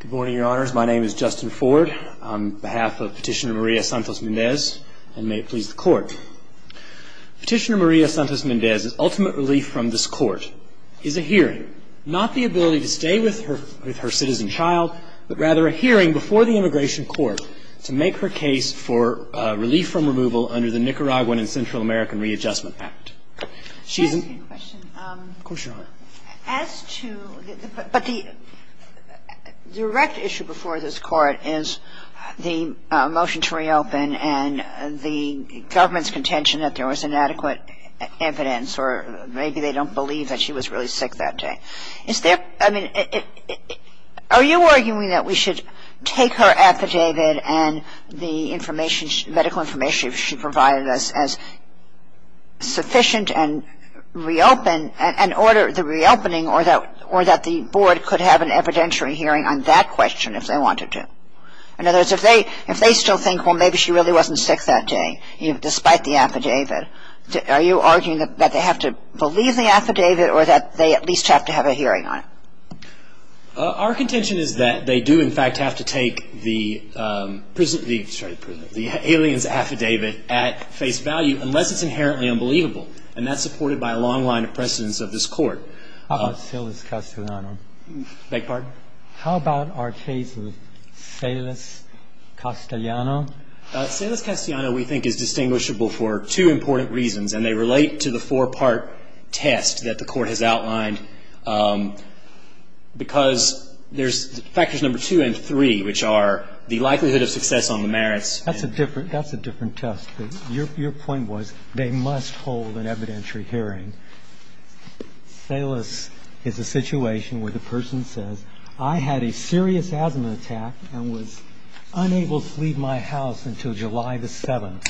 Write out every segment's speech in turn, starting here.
Good morning, Your Honors. My name is Justin Ford on behalf of Petitioner Maria Santos-Mendez, and may it please the Court. Petitioner Maria Santos-Mendez's ultimate relief from this Court is a hearing, not the ability to stay with her citizen child, but rather a hearing before the Immigration Court to make her case for relief from removal under the Nicaraguan and Central American Readjustment Act. But the direct issue before this Court is the motion to reopen and the government's contention that there was inadequate evidence, or maybe they don't believe that she was really sick that day. Is there, I mean, are you arguing that we should take her affidavit and the information, medical information she provided us as sufficient and reopen, and order the reopening or that the Board could have an evidentiary hearing on that question if they wanted to? In other words, if they still think, well, maybe she really wasn't sick that day, despite the affidavit, are you arguing that they have to believe the affidavit or that they at least have to have a hearing on it? Our contention is that they do, in fact, have to take the alien's affidavit at face value unless it's inherently unbelievable, and that's supported by a long line of precedence of this Court. How about Silas Castellano? Beg your pardon? How about our case with Silas Castellano? Silas Castellano, we think, is distinguishable for two important reasons, and they relate to the four-part test that the Court has outlined because there's factors number two and three, which are the likelihood of success on the merits. That's a different test. Your point was they must hold an evidentiary hearing. Silas is a situation where the person says, I had a serious asthma attack and was unable to leave my house until July the 7th.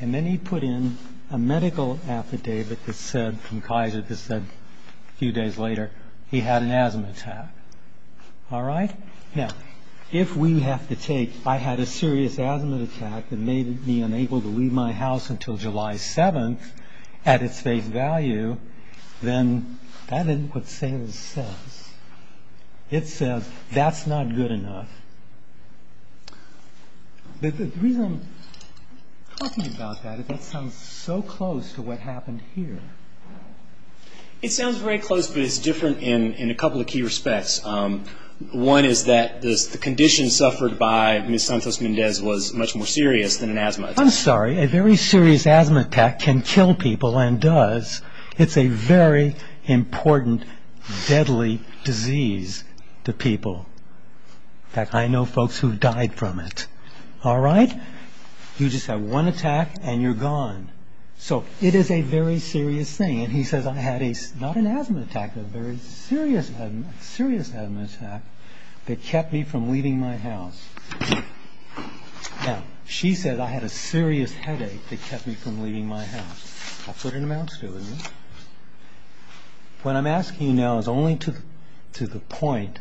And then he put in a medical affidavit from Kaiser that said, a few days later, he had an asthma attack. All right? Now, if we have to take, I had a serious asthma attack that made me unable to leave my house until July 7th at its face value, then that isn't what Silas says. It says, that's not good enough. The reason I'm talking about that is that sounds so close to what happened here. It sounds very close, but it's different in a couple of key respects. One is that the condition suffered by Ms. Santos-Mendez was much more serious than an asthma attack. I'm sorry. A very serious asthma attack can kill people and does. It's a very important, deadly disease to people. In fact, I know folks who died from it. All right? You just have one attack and you're gone. So, it is a very serious thing. And he says, I had a, not an asthma attack, but a very serious asthma attack that kept me from leaving my house. Now, she says I had a serious headache that kept me from leaving my house. That's what it amounts to, isn't it? What I'm asking you now is only to the point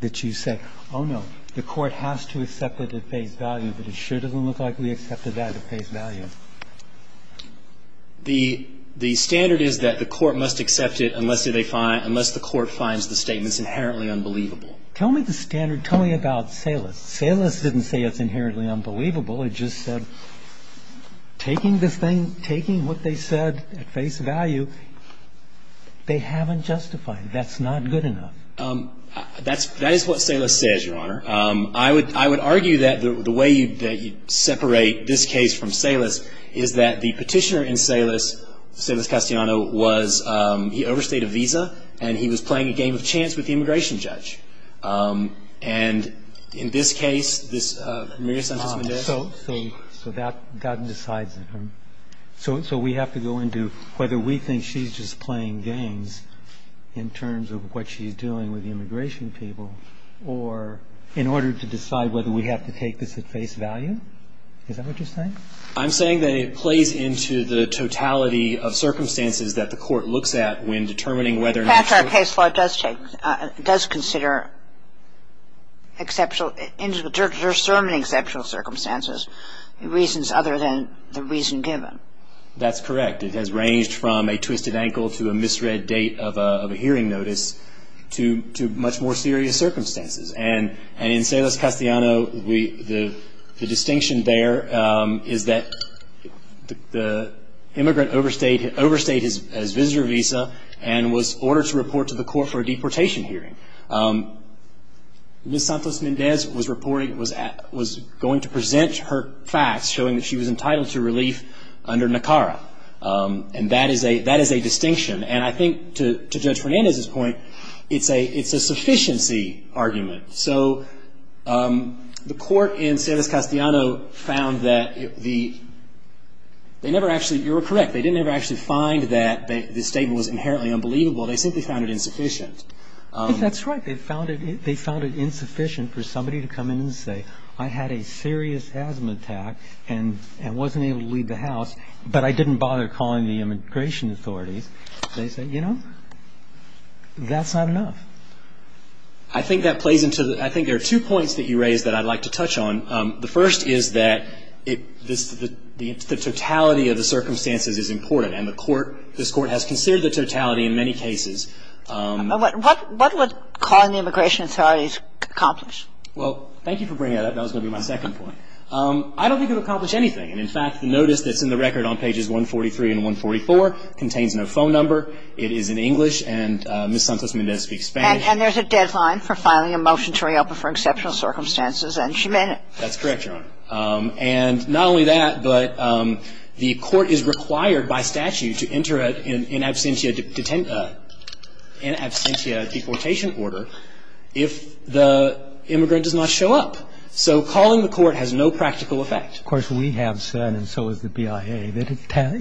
that you say, oh no, the court has to accept it at face value, but it sure doesn't look like we accepted that at face value. The standard is that the court must accept it unless the court finds the statement's inherently unbelievable. Tell me the standard. Tell me about Salus. Salus didn't say it's inherently unbelievable. It just said taking this thing, taking what they said at face value, they haven't justified it. That's not good enough. That is what Salus says, Your Honor. I would argue that the way that you separate this case from Salus is that the petitioner in Salus, Salus Castellano, was, he overstayed a visa and he was playing a game of chance with the immigration judge. And in this case, this, Maria Sanchez-Mendez. So, that decides it. So, we have to go into whether we think she's just playing games in terms of what she's doing with the immigration people or in order to decide whether we have to take this at face value? Is that what you're saying? I'm saying that it plays into the totality of circumstances that the court looks at when determining whether or not to The case law does take, does consider exceptional, does discern exceptional circumstances, reasons other than the reason given. That's correct. It has ranged from a twisted ankle to a misread date of a hearing notice to much more serious circumstances. And in Salus Castellano, the distinction there is that the immigrant overstayed his visitor visa and was ordered to report to the court for a deportation hearing. Ms. Santos-Mendez was going to present her facts showing that she was entitled to relief under NACARA. And that is a distinction. And I think, to Judge Fernandez's point, it's a sufficiency argument. So, the court in Salus Castellano found that the, they never actually, you're correct, they didn't ever actually find that the statement was inherently unbelievable. They simply found it insufficient. That's right. They found it insufficient for somebody to come in and say, I had a serious asthma attack and wasn't able to leave the house, but I didn't bother calling the immigration authorities. They said, you know, that's not enough. I think that plays into, I think there are two points that you raised that I'd like to touch on. The first is that the totality of the circumstances is important. And the court, this Court has considered the totality in many cases. What would calling the immigration authorities accomplish? Well, thank you for bringing that up. That was going to be my second point. I don't think it would accomplish anything. And, in fact, the notice that's in the record on pages 143 and 144 contains no phone number. It is in English. And Ms. Santos-Mendez speaks Spanish. And there's a deadline for filing a motion to reopen for exceptional circumstances. And she meant it. That's correct, Your Honor. And not only that, but the court is required by statute to enter an in absentia deportation order if the immigrant does not show up. So calling the court has no practical effect. Of course, we have said, and so has the BIA, that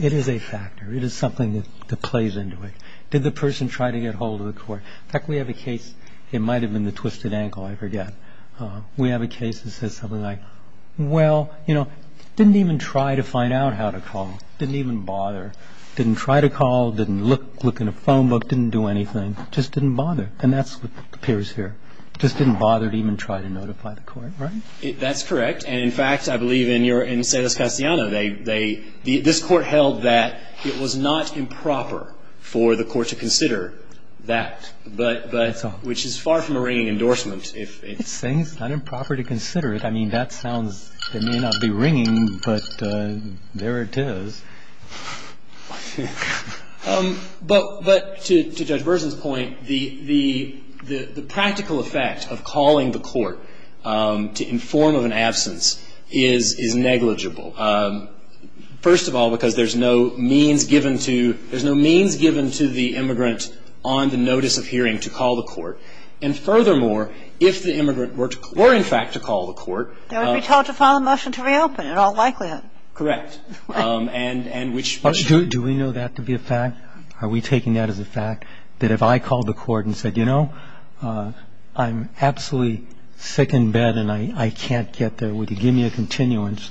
it is a factor. It is something that plays into it. Did the person try to get hold of the court? In fact, we have a case, it might have been the twisted ankle, I forget. We have a case that says something like, well, you know, didn't even try to find out how to call. Didn't even bother. Didn't try to call. Didn't look in a phone book. Didn't do anything. Just didn't bother. And that's what appears here. Just didn't bother to even try to notify the court. Right? That's correct. And, in fact, I believe in your, in Cedes-Castellano, they, this court held that it was not improper for the court to consider that. Which is far from a ringing endorsement. It's saying it's not improper to consider it. I mean, that sounds, it may not be ringing, but there it is. But to Judge Bersin's point, the practical effect of calling the court to inform of an absence is negligible. First of all, because there's no means given to, there's no means given to the immigrant on the notice of hearing to call the court. And, furthermore, if the immigrant were, in fact, to call the court. They would be told to file a motion to reopen, in all likelihood. Correct. And which. Do we know that to be a fact? Are we taking that as a fact? That if I called the court and said, you know, I'm absolutely sick in bed and I can't get there. Would you give me a continuance?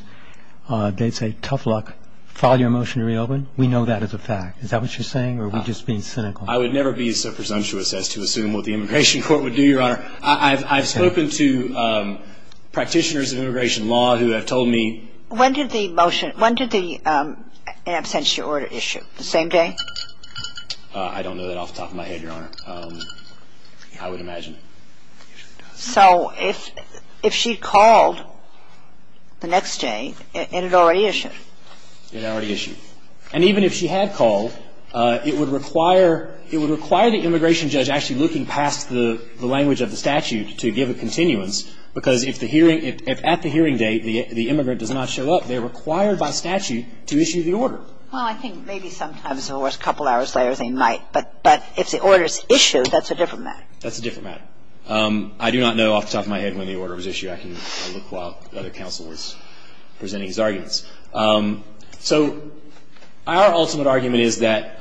They'd say, tough luck. File your motion to reopen. We know that as a fact. Is that what you're saying or are we just being cynical? I would never be so presumptuous as to assume what the immigration court would do, Your Honor. I've spoken to practitioners of immigration law who have told me. When did the motion, when did the absentia order issue? The same day? I don't know that off the top of my head, Your Honor. I would imagine. So if she called the next day, it had already issued. It had already issued. And even if she had called, it would require the immigration judge actually looking past the language of the statute to give a continuance, because if the hearing at the hearing date, the immigrant does not show up, they're required by statute to issue the order. Well, I think maybe sometimes or a couple hours later they might. But if the order is issued, that's a different matter. I do not know off the top of my head when the order was issued. I can look while the other counsel is presenting his arguments. So our ultimate argument is that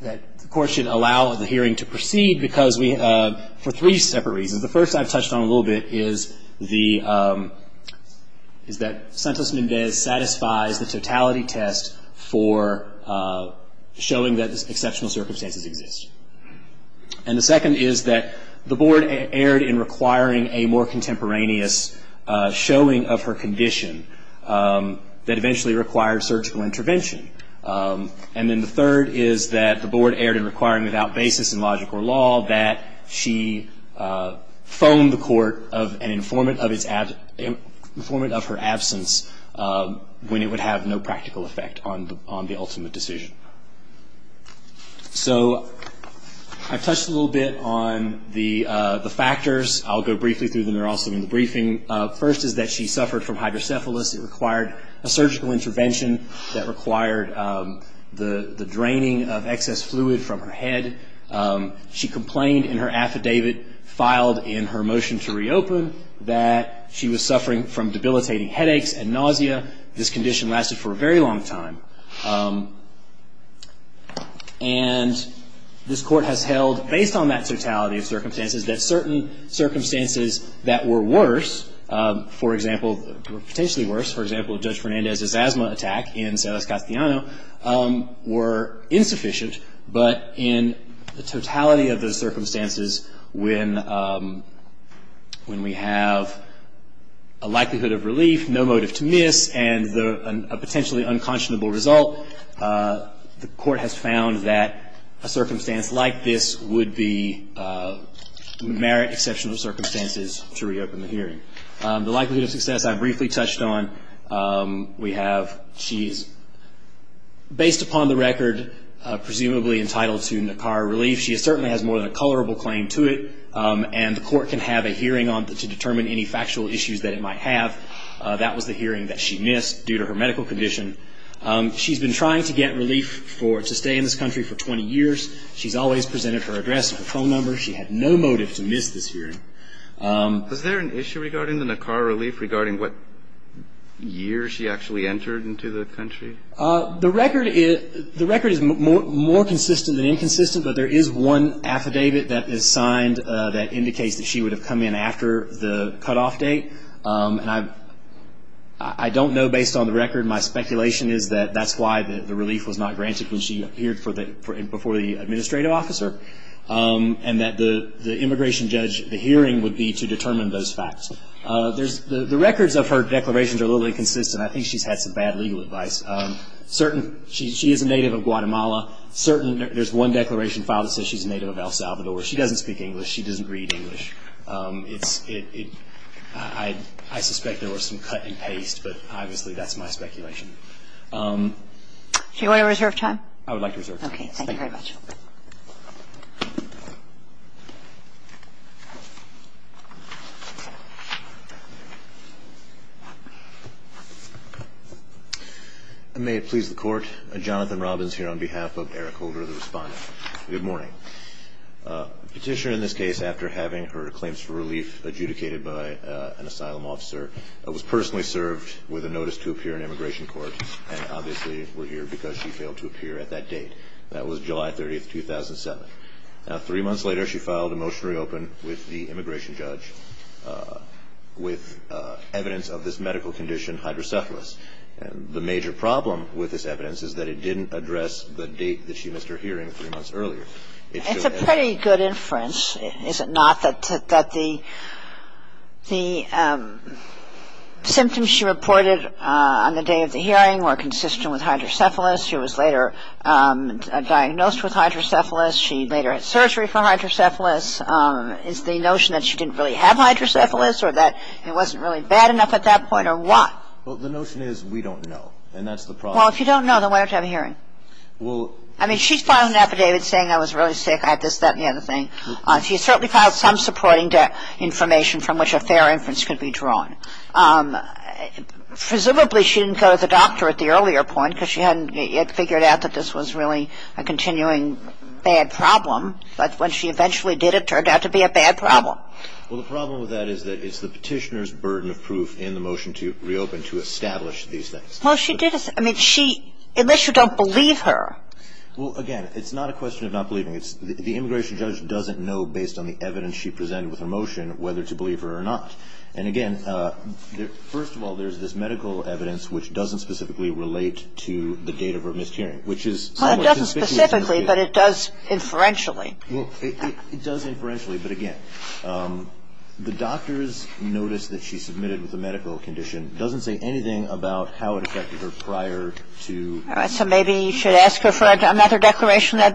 the court should allow the hearing to proceed because we, for three separate reasons. The first I've touched on a little bit is that Santos Mendez satisfies the totality test for showing that exceptional circumstances exist. And the second is that the board erred in requiring a more contemporaneous showing of her condition that eventually required surgical intervention. And then the third is that the board erred in requiring without basis in logic or law that she phone the court an informant of her absence when it would have no practical effect on the ultimate decision. So I've touched a little bit on the factors. I'll go briefly through them. They're also in the briefing. First is that she suffered from hydrocephalus. It required a surgical intervention that required the draining of excess fluid from her head. She complained in her affidavit filed in her motion to reopen that she was suffering from debilitating headaches and nausea. This condition lasted for a very long time. And this Court has held, based on that totality of circumstances, that certain circumstances that were worse, for example, were potentially worse. For example, Judge Fernandez's asthma attack in Celes Castellano were insufficient. But in the totality of those circumstances, when we have a likelihood of relief, no motive to miss, and a potentially unconscionable result, the Court has found that a circumstance like this would merit exceptional circumstances to reopen the hearing. The likelihood of success I briefly touched on, we have she's, based upon the record, presumably entitled to NACAR relief. She certainly has more than a colorable claim to it, and the Court can have a hearing to determine any factual issues that it might have. That was the hearing that she missed due to her medical condition. She's been trying to get relief to stay in this country for 20 years. She's always presented her address and phone number. She had no motive to miss this hearing. Was there an issue regarding the NACAR relief, regarding what year she actually entered into the country? The record is more consistent than inconsistent, but there is one affidavit that is signed that indicates that she would have come in after the cutoff date. I don't know, based on the record, my speculation is that that's why the relief was not granted when she appeared before the administrative officer, and that the immigration judge, the hearing would be to determine those facts. The records of her declarations are a little inconsistent. I think she's had some bad legal advice. She is a native of Guatemala. There's one declaration filed that says she's a native of El Salvador. She doesn't speak English. She doesn't read English. I suspect there was some cut and paste, but obviously that's my speculation. Do you want to reserve time? I would like to reserve time. Okay, thank you very much. May it please the Court, Jonathan Robbins here on behalf of Eric Holder, the respondent. Good morning. The petitioner in this case, after having her claims for relief adjudicated by an asylum officer, was personally served with a notice to appear in immigration court, and obviously we're here because she failed to appear at that date. That was July 30, 2007. Now, three months later, she filed a motion to reopen with the immigration judge with evidence of this medical condition, hydrocephalus. The major problem with this evidence is that it didn't address the date that she had her hearing three months earlier. It's a pretty good inference, is it not, that the symptoms she reported on the day of the hearing were consistent with hydrocephalus. She was later diagnosed with hydrocephalus. She later had surgery for hydrocephalus. Is the notion that she didn't really have hydrocephalus, or that it wasn't really bad enough at that point, or what? Well, the notion is we don't know, and that's the problem. Well, if you don't know, then why don't you have a hearing? I mean, she filed an affidavit saying I was really sick. I had this, that, and the other thing. She certainly filed some supporting information from which a fair inference could be drawn. Presumably, she didn't go to the doctor at the earlier point because she hadn't yet figured out that this was really a continuing bad problem. But when she eventually did, it turned out to be a bad problem. Well, the problem with that is that it's the Petitioner's burden of proof in the motion to reopen to establish these things. Well, she did. Unless you don't believe her. Well, again, it's not a question of not believing. The immigration judge doesn't know, based on the evidence she presented with her motion, whether to believe her or not. And, again, first of all, there's this medical evidence which doesn't specifically relate to the date of her miscarriage. Well, it doesn't specifically, but it does inferentially. It does inferentially, but, again, the doctor's notice that she submitted with So maybe you should ask her for another declaration. I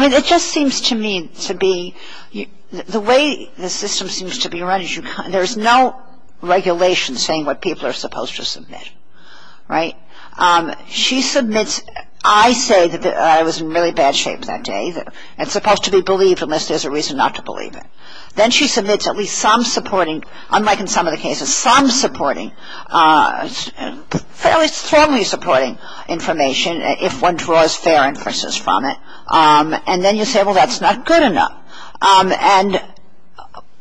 mean, it just seems to me to be the way the system seems to be run, there's no regulation saying what people are supposed to submit, right? She submits, I say that I was in really bad shape that day. It's supposed to be believed unless there's a reason not to believe it. Then she submits at least some supporting, unlike in some of the cases, some supporting, fairly strongly supporting information if one draws fair inferences from it. And then you say, well, that's not good enough. And,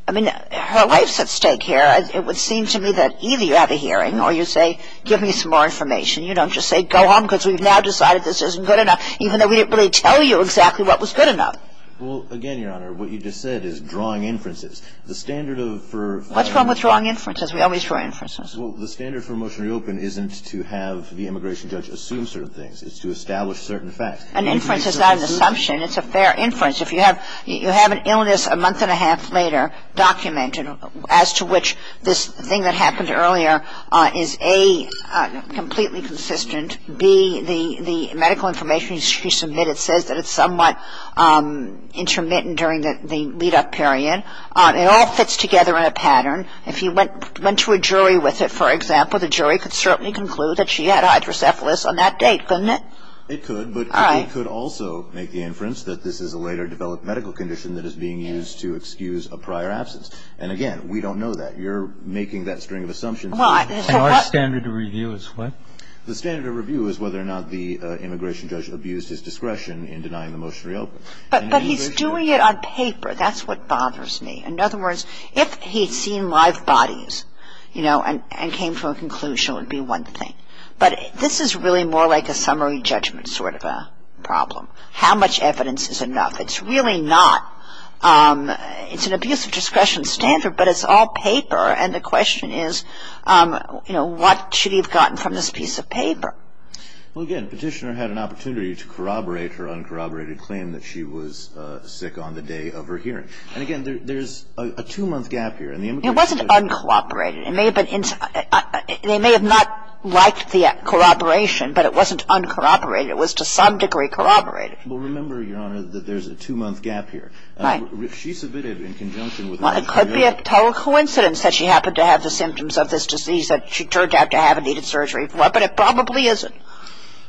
I mean, her life's at stake here. It would seem to me that either you have a hearing or you say give me some more information. You don't just say go home because we've now decided this isn't good enough, even though we didn't really tell you exactly what was good enough. Well, again, Your Honor, what you just said is drawing inferences. What's wrong with drawing inferences? We always draw inferences. Well, the standard for motion to reopen isn't to have the immigration judge assume certain things. It's to establish certain facts. An inference is not an assumption. It's a fair inference. If you have an illness a month and a half later documented, as to which this thing that happened earlier is, A, completely consistent, B, the medical information she submitted says that it's somewhat intermittent during the lead-up period, it all fits together in a pattern. If you went to a jury with it, for example, the jury could certainly conclude that she had hydrocephalus on that date, couldn't it? It could, but it could also make the inference that this is a later developed medical condition that is being used to excuse a prior absence. And, again, we don't know that. You're making that string of assumptions. And our standard of review is what? The standard of review is whether or not the immigration judge abused his discretion in denying the motion to reopen. But he's doing it on paper. That's what bothers me. In other words, if he'd seen live bodies, you know, and came to a conclusion, it would be one thing. But this is really more like a summary judgment sort of a problem. How much evidence is enough? It's really not. It's an abusive discretion standard, but it's all paper. And the question is, you know, what should he have gotten from this piece of paper? Well, again, Petitioner had an opportunity to corroborate her uncorroborated claim that she was sick on the day of her hearing. And, again, there's a two-month gap here. It wasn't uncorroborated. It may have been they may have not liked the corroboration, but it wasn't uncorroborated. It was to some degree corroborated. Well, remember, Your Honor, that there's a two-month gap here. Right. If she submitted in conjunction with the immigration judge. Well, it could be a coincidence that she happened to have the symptoms of this disease that she turned out to have and needed surgery for. But it probably isn't.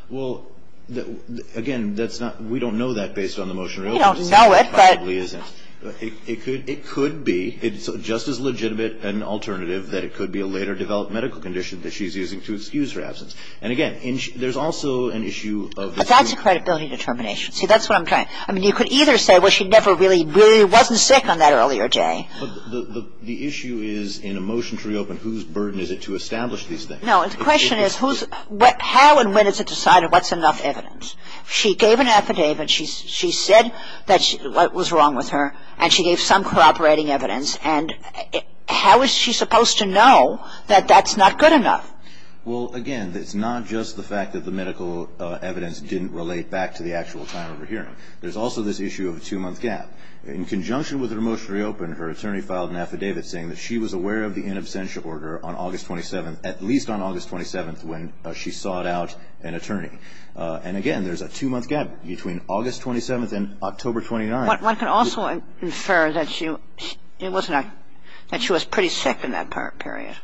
Well, again, that's not we don't know that based on the motion to reopen. We don't know it, but. It probably isn't. It could be. It's just as legitimate an alternative that it could be a later developed medical condition that she's using to excuse her absence. And, again, there's also an issue of. But that's a credibility determination. See, that's what I'm trying to. I mean, you could either say, well, she never really wasn't sick on that earlier day. The issue is in a motion to reopen, whose burden is it to establish these things? No, the question is how and when is it decided what's enough evidence? She gave an affidavit. She said what was wrong with her, and she gave some cooperating evidence. And how is she supposed to know that that's not good enough? Well, again, it's not just the fact that the medical evidence didn't relate back to the actual time of her hearing. There's also this issue of a two-month gap. In conjunction with her motion to reopen, her attorney filed an affidavit saying that she was aware of the in absentia order on August 27th, at least on August 27th, when she sought out an attorney. And, again, there's a two-month gap between August 27th and October 29th. One can also infer that she was pretty sick in that period.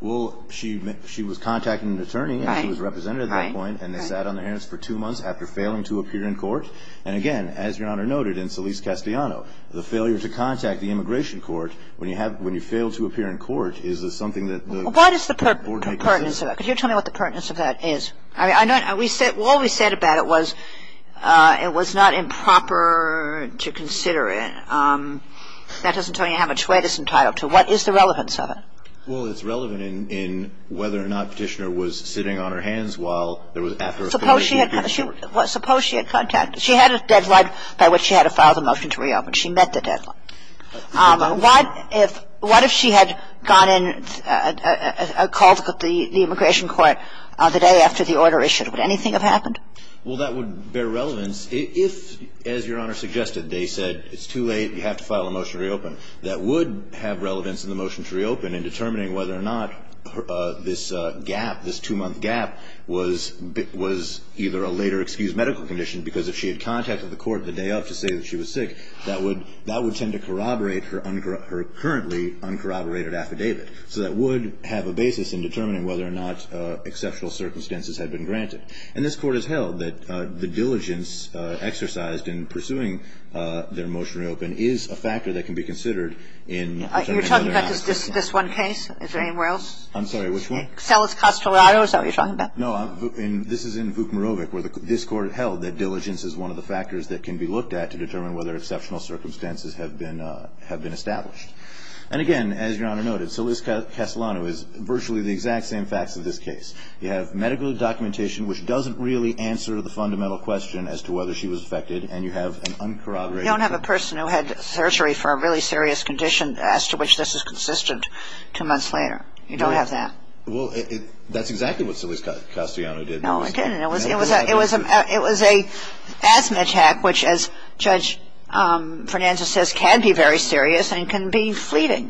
Well, she was contacting an attorney. Right. And she was a representative at that point. Right. And they sat on their hands for two months after failing to appear in court. And, again, as Your Honor noted in Solis-Castellano, the failure to contact the immigration court when you have when you fail to appear in court is something that the What is the pertinence of that? Could you tell me what the pertinence of that is? I mean, I know what we said about it was it was not improper to consider it. That doesn't tell you how much weight it's entitled to. What is the relevance of it? Well, it's relevant in whether or not Petitioner was sitting on her hands while there was Suppose she had Suppose she had contacted She had a deadline by which she had to file the motion to reopen. She met the deadline. What if she had gone in and called the immigration court the day after the order issued? Would anything have happened? Well, that would bear relevance. If, as Your Honor suggested, they said it's too late, you have to file a motion to reopen, that would have relevance in the motion to reopen in determining whether or not this gap, this two-month gap, was either a later excused medical condition, because if she had contacted the court the day after to say that she was sick, that would tend to corroborate her currently uncorroborated affidavit. So that would have a basis in determining whether or not exceptional circumstances had been granted. And this Court has held that the diligence exercised in pursuing their motion to reopen is a factor that can be considered in determining whether or not it's correct. You're talking about this one case? Is there anywhere else? I'm sorry, which one? Salas-Castellano is that what you're talking about? No, this is in Vukmarovic where this Court held that diligence is one of the factors that can be looked at to determine whether exceptional circumstances have been established. And again, as Your Honor noted, Salas-Castellano is virtually the exact same facts of this case. You have medical documentation which doesn't really answer the fundamental question as to whether she was affected, and you have an uncorroborated affidavit. You don't have a person who had surgery for a really serious condition as to which this is consistent two months later. You don't have that. Well, that's exactly what Salas-Castellano did. No, it didn't. It was a asthma attack which, as Judge Fernandez says, can be very serious and can be fleeting.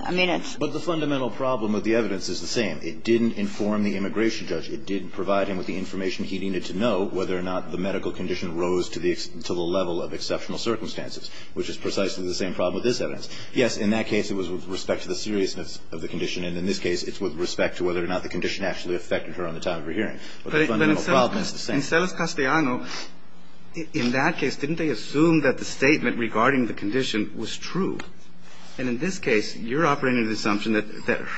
But the fundamental problem with the evidence is the same. It didn't inform the immigration judge. It didn't provide him with the information he needed to know whether or not the medical condition rose to the level of exceptional circumstances, which is precisely the same problem with this evidence. Yes, in that case it was with respect to the seriousness of the condition, and in this case it's with respect to whether or not the condition actually affected her on the time of her hearing. But the fundamental problem is the same. But in Salas-Castellano, in that case, didn't they assume that the statement regarding the condition was true? And in this case, you're operating under the assumption that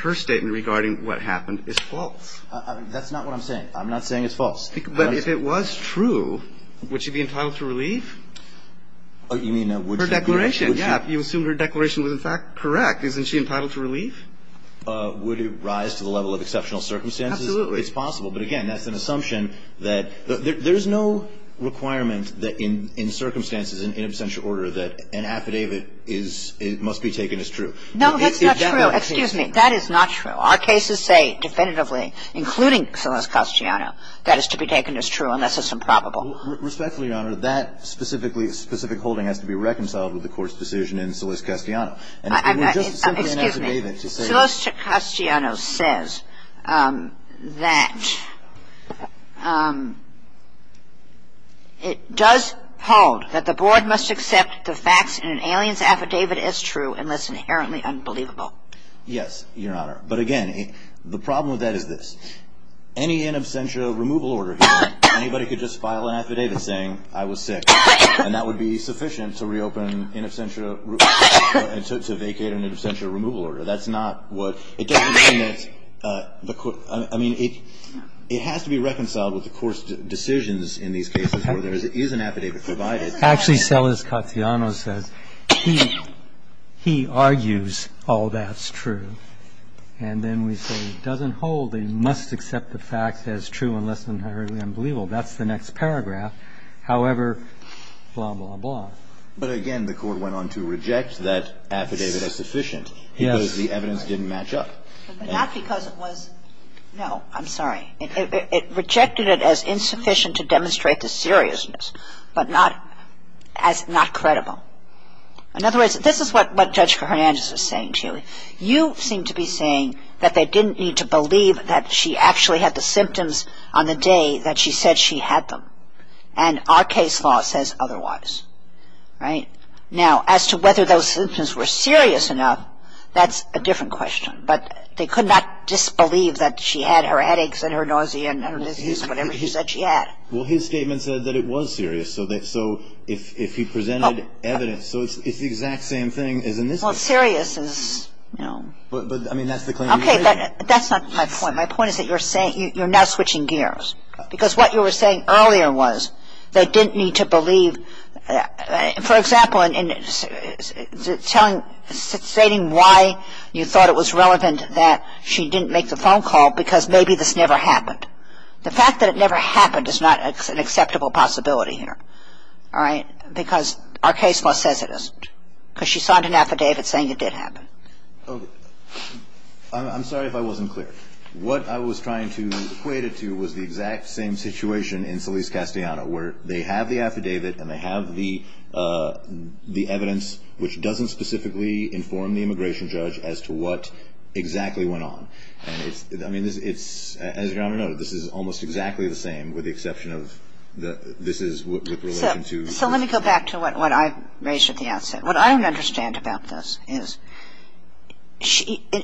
her statement regarding what happened is false. That's not what I'm saying. I'm not saying it's false. But if it was true, would she be entitled to relief? You mean, would she be? Her declaration, yes. You assume her declaration was, in fact, correct. Isn't she entitled to relief? Would it rise to the level of exceptional circumstances? Absolutely. It's possible. But, again, that's an assumption that there's no requirement that in circumstances in absentia order that an affidavit must be taken as true. No, that's not true. Excuse me. That is not true. Our cases say definitively, including Salas-Castellano, that it's to be taken as true unless it's improbable. Respectfully, Your Honor, that specific holding has to be reconciled with the Court's decision in Salas-Castellano. And if you were just simply an affidavit. Salas-Castellano says that it does hold that the Board must accept the facts in an alien's affidavit as true unless inherently unbelievable. Yes, Your Honor. But, again, the problem with that is this. Any in absentia removal order here, anybody could just file an affidavit saying, I was sick. And that would be sufficient to reopen in absentia, to vacate an in absentia removal order. That's not what the Court, I mean, it has to be reconciled with the Court's decisions in these cases where there is an affidavit provided. Actually, Salas-Castellano says he argues all that's true. And then we say it doesn't hold. They must accept the facts as true unless inherently unbelievable. That's the next paragraph. However, blah, blah, blah. But, again, the Court went on to reject that affidavit as sufficient. Yes. Because the evidence didn't match up. But not because it was no, I'm sorry. It rejected it as insufficient to demonstrate the seriousness, but not as not credible. In other words, this is what Judge Fernandez is saying, Julie. You seem to be saying that they didn't need to believe that she actually had the symptoms on the day that she said she had them. And our case law says otherwise. Right? Now, as to whether those symptoms were serious enough, that's a different question. But they could not disbelieve that she had her headaches and her nausea and her disease, whatever she said she had. Well, his statement said that it was serious. So if he presented evidence, so it's the exact same thing as in this case. Well, serious is, you know. But, I mean, that's the claim you made. Okay. But that's not my point. My point is that you're saying, you're now switching gears. Because what you were saying earlier was they didn't need to believe. For example, in stating why you thought it was relevant that she didn't make the phone call because maybe this never happened. The fact that it never happened is not an acceptable possibility here. All right? Because our case law says it is. Because she signed an affidavit saying it did happen. I'm sorry if I wasn't clear. What I was trying to equate it to was the exact same situation in Solis-Castellano, where they have the affidavit and they have the evidence, which doesn't specifically inform the immigration judge as to what exactly went on. I mean, as your Honor noted, this is almost exactly the same with the exception of this is with relation to. So let me go back to what I raised at the outset. What I don't understand about this is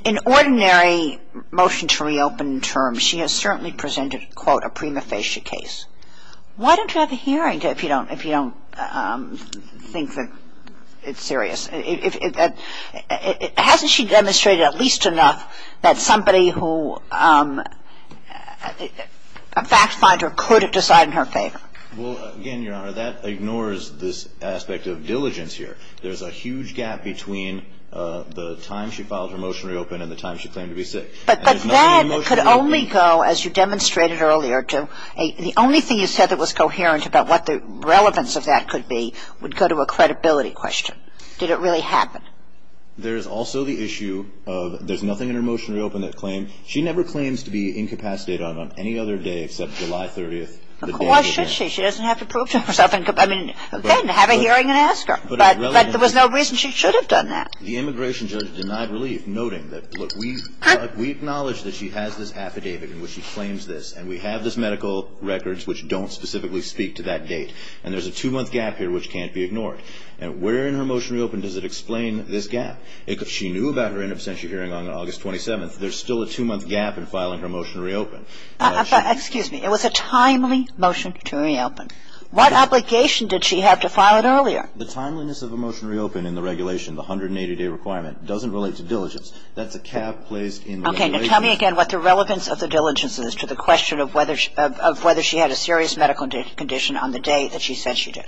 in ordinary motion to reopen terms, she has certainly presented, quote, a prima facie case. Why don't you have a hearing if you don't think that it's serious? Hasn't she demonstrated at least enough that somebody who, a fact finder could have decided in her favor? Well, again, Your Honor, that ignores this aspect of diligence here. There's a huge gap between the time she filed her motion to reopen and the time she claimed to be sick. But that could only go, as you demonstrated earlier, to the only thing you said that was coherent about what the relevance of that could be, would go to a credibility question. Did it really happen? There's also the issue of there's nothing in her motion to reopen that claimed. She never claims to be incapacitated on any other day except July 30th. Of course she should. She doesn't have to prove to herself. I mean, then have a hearing and ask her. But there was no reason she should have done that. The immigration judge denied relief, noting that, look, we acknowledge that she has this affidavit in which she claims this, and we have this medical records which don't specifically speak to that date. And there's a two-month gap here which can't be ignored. And where in her motion to reopen does it explain this gap? If she knew about her in absentia hearing on August 27th, there's still a two-month gap in filing her motion to reopen. Excuse me. It was a timely motion to reopen. What obligation did she have to file it earlier? The timeliness of a motion to reopen in the regulation, the 180-day requirement, doesn't relate to diligence. That's a cap placed in the regulation. Okay. Now tell me again what the relevance of the diligence is to the question of whether she had a serious medical condition on the date that she said she did.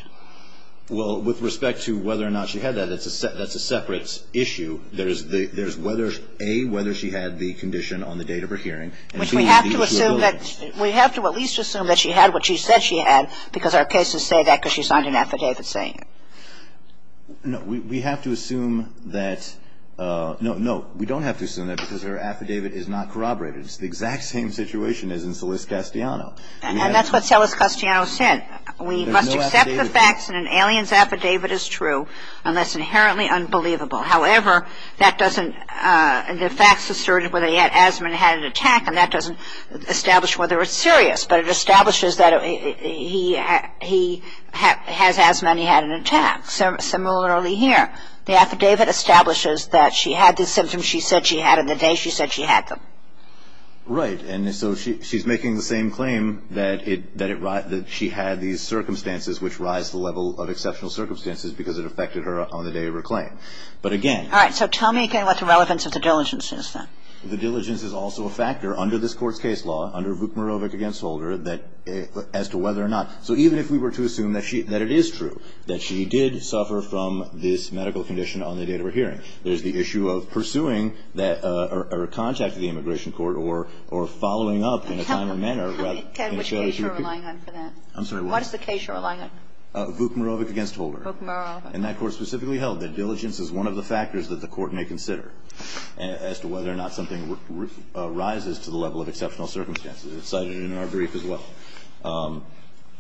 Well, with respect to whether or not she had that, that's a separate issue. There's whether, A, whether she had the condition on the date of her hearing, and, B, the issue of diligence. We have to at least assume that she had what she said she had because our cases say that because she signed an affidavit saying it. No, we have to assume that no, no, we don't have to assume that because her affidavit is not corroborated. It's the exact same situation as in Celis Castellano. And that's what Celis Castellano said. We must accept the facts in an alien's affidavit as true unless inherently unbelievable. However, that doesn't, the facts assert whether he had asthma and had an attack, and that doesn't establish whether it's serious, but it establishes that he has asthma and he had an attack. Similarly here, the affidavit establishes that she had the symptoms she said she had on the day she said she had them. Right, and so she's making the same claim that she had these circumstances which rise to the level of exceptional circumstances because it affected her on the day of her claim. But again... All right, so tell me again what the relevance of the diligence is then. The diligence is also a factor under this Court's case law, under Vukmarovic v. Holder, as to whether or not, so even if we were to assume that it is true, that she did suffer from this medical condition on the day of her hearing, there's the issue of pursuing or contacting the immigration court or following up in a timely manner rather than... Ted, which case you're relying on for that? I'm sorry, what? What is the case you're relying on? Vukmarovic v. Holder. Vukmarovic. And that Court specifically held that diligence is one of the factors that the Court may consider as to whether or not something rises to the level of exceptional circumstances. It's cited in our brief as well.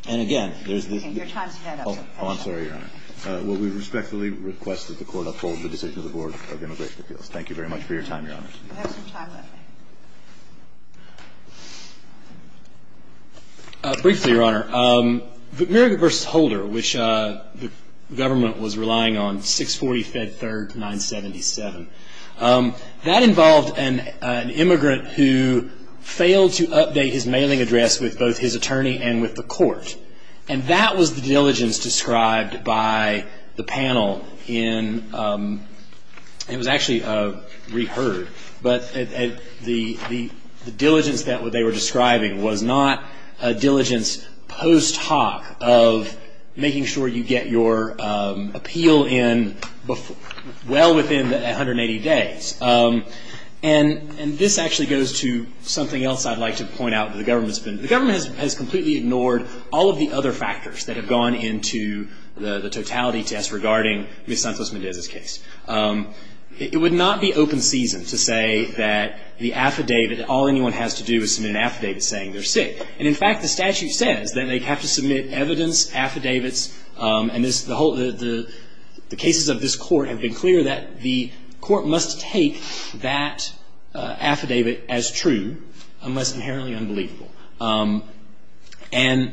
And again, there's the... Your time's run out. Oh, I'm sorry, Your Honor. Well, we respectfully request that the Court uphold the decision of the Board of Immigration Appeals. Thank you very much for your time, Your Honor. We have some time left. Briefly, Your Honor, Vukmarovic v. Holder, which the government was relying on, 640 Fed 3rd 977. That involved an immigrant who failed to update his mailing address with both his attorney and with the court. And that was the diligence described by the panel in... It was actually reheard. But the diligence that they were describing was not a diligence post hoc of making sure you get your appeal in well within 180 days. And this actually goes to something else I'd like to point out. The government has completely ignored all of the other factors that have gone into the totality test regarding Ms. Santos-Mendez's case. It would not be open season to say that the affidavit, all anyone has to do is submit an affidavit saying they're sick. And, in fact, the statute says that they have to submit evidence, affidavits. And the cases of this court have been clear that the court must take that affidavit as true unless inherently unbelievable. And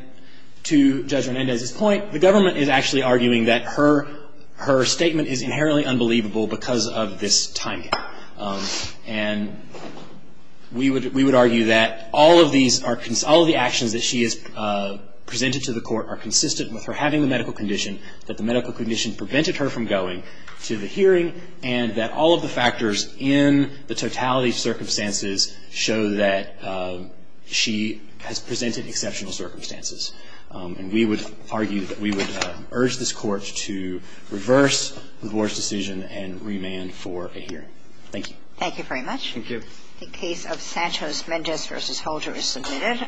to Judge Hernandez's point, the government is actually arguing that her statement is inherently unbelievable because of this time gap. And we would argue that all of these, all of the actions that she has presented to the court are consistent with her having the medical condition, that the medical condition prevented her from going to the hearing, and that all of the factors in the totality circumstances show that she has presented exceptional circumstances. And we would argue that we would urge this court to reverse the board's decision and remand for a hearing. Thank you. Thank you very much. Thank you. The case of Santos-Mendez v. Holder is submitted.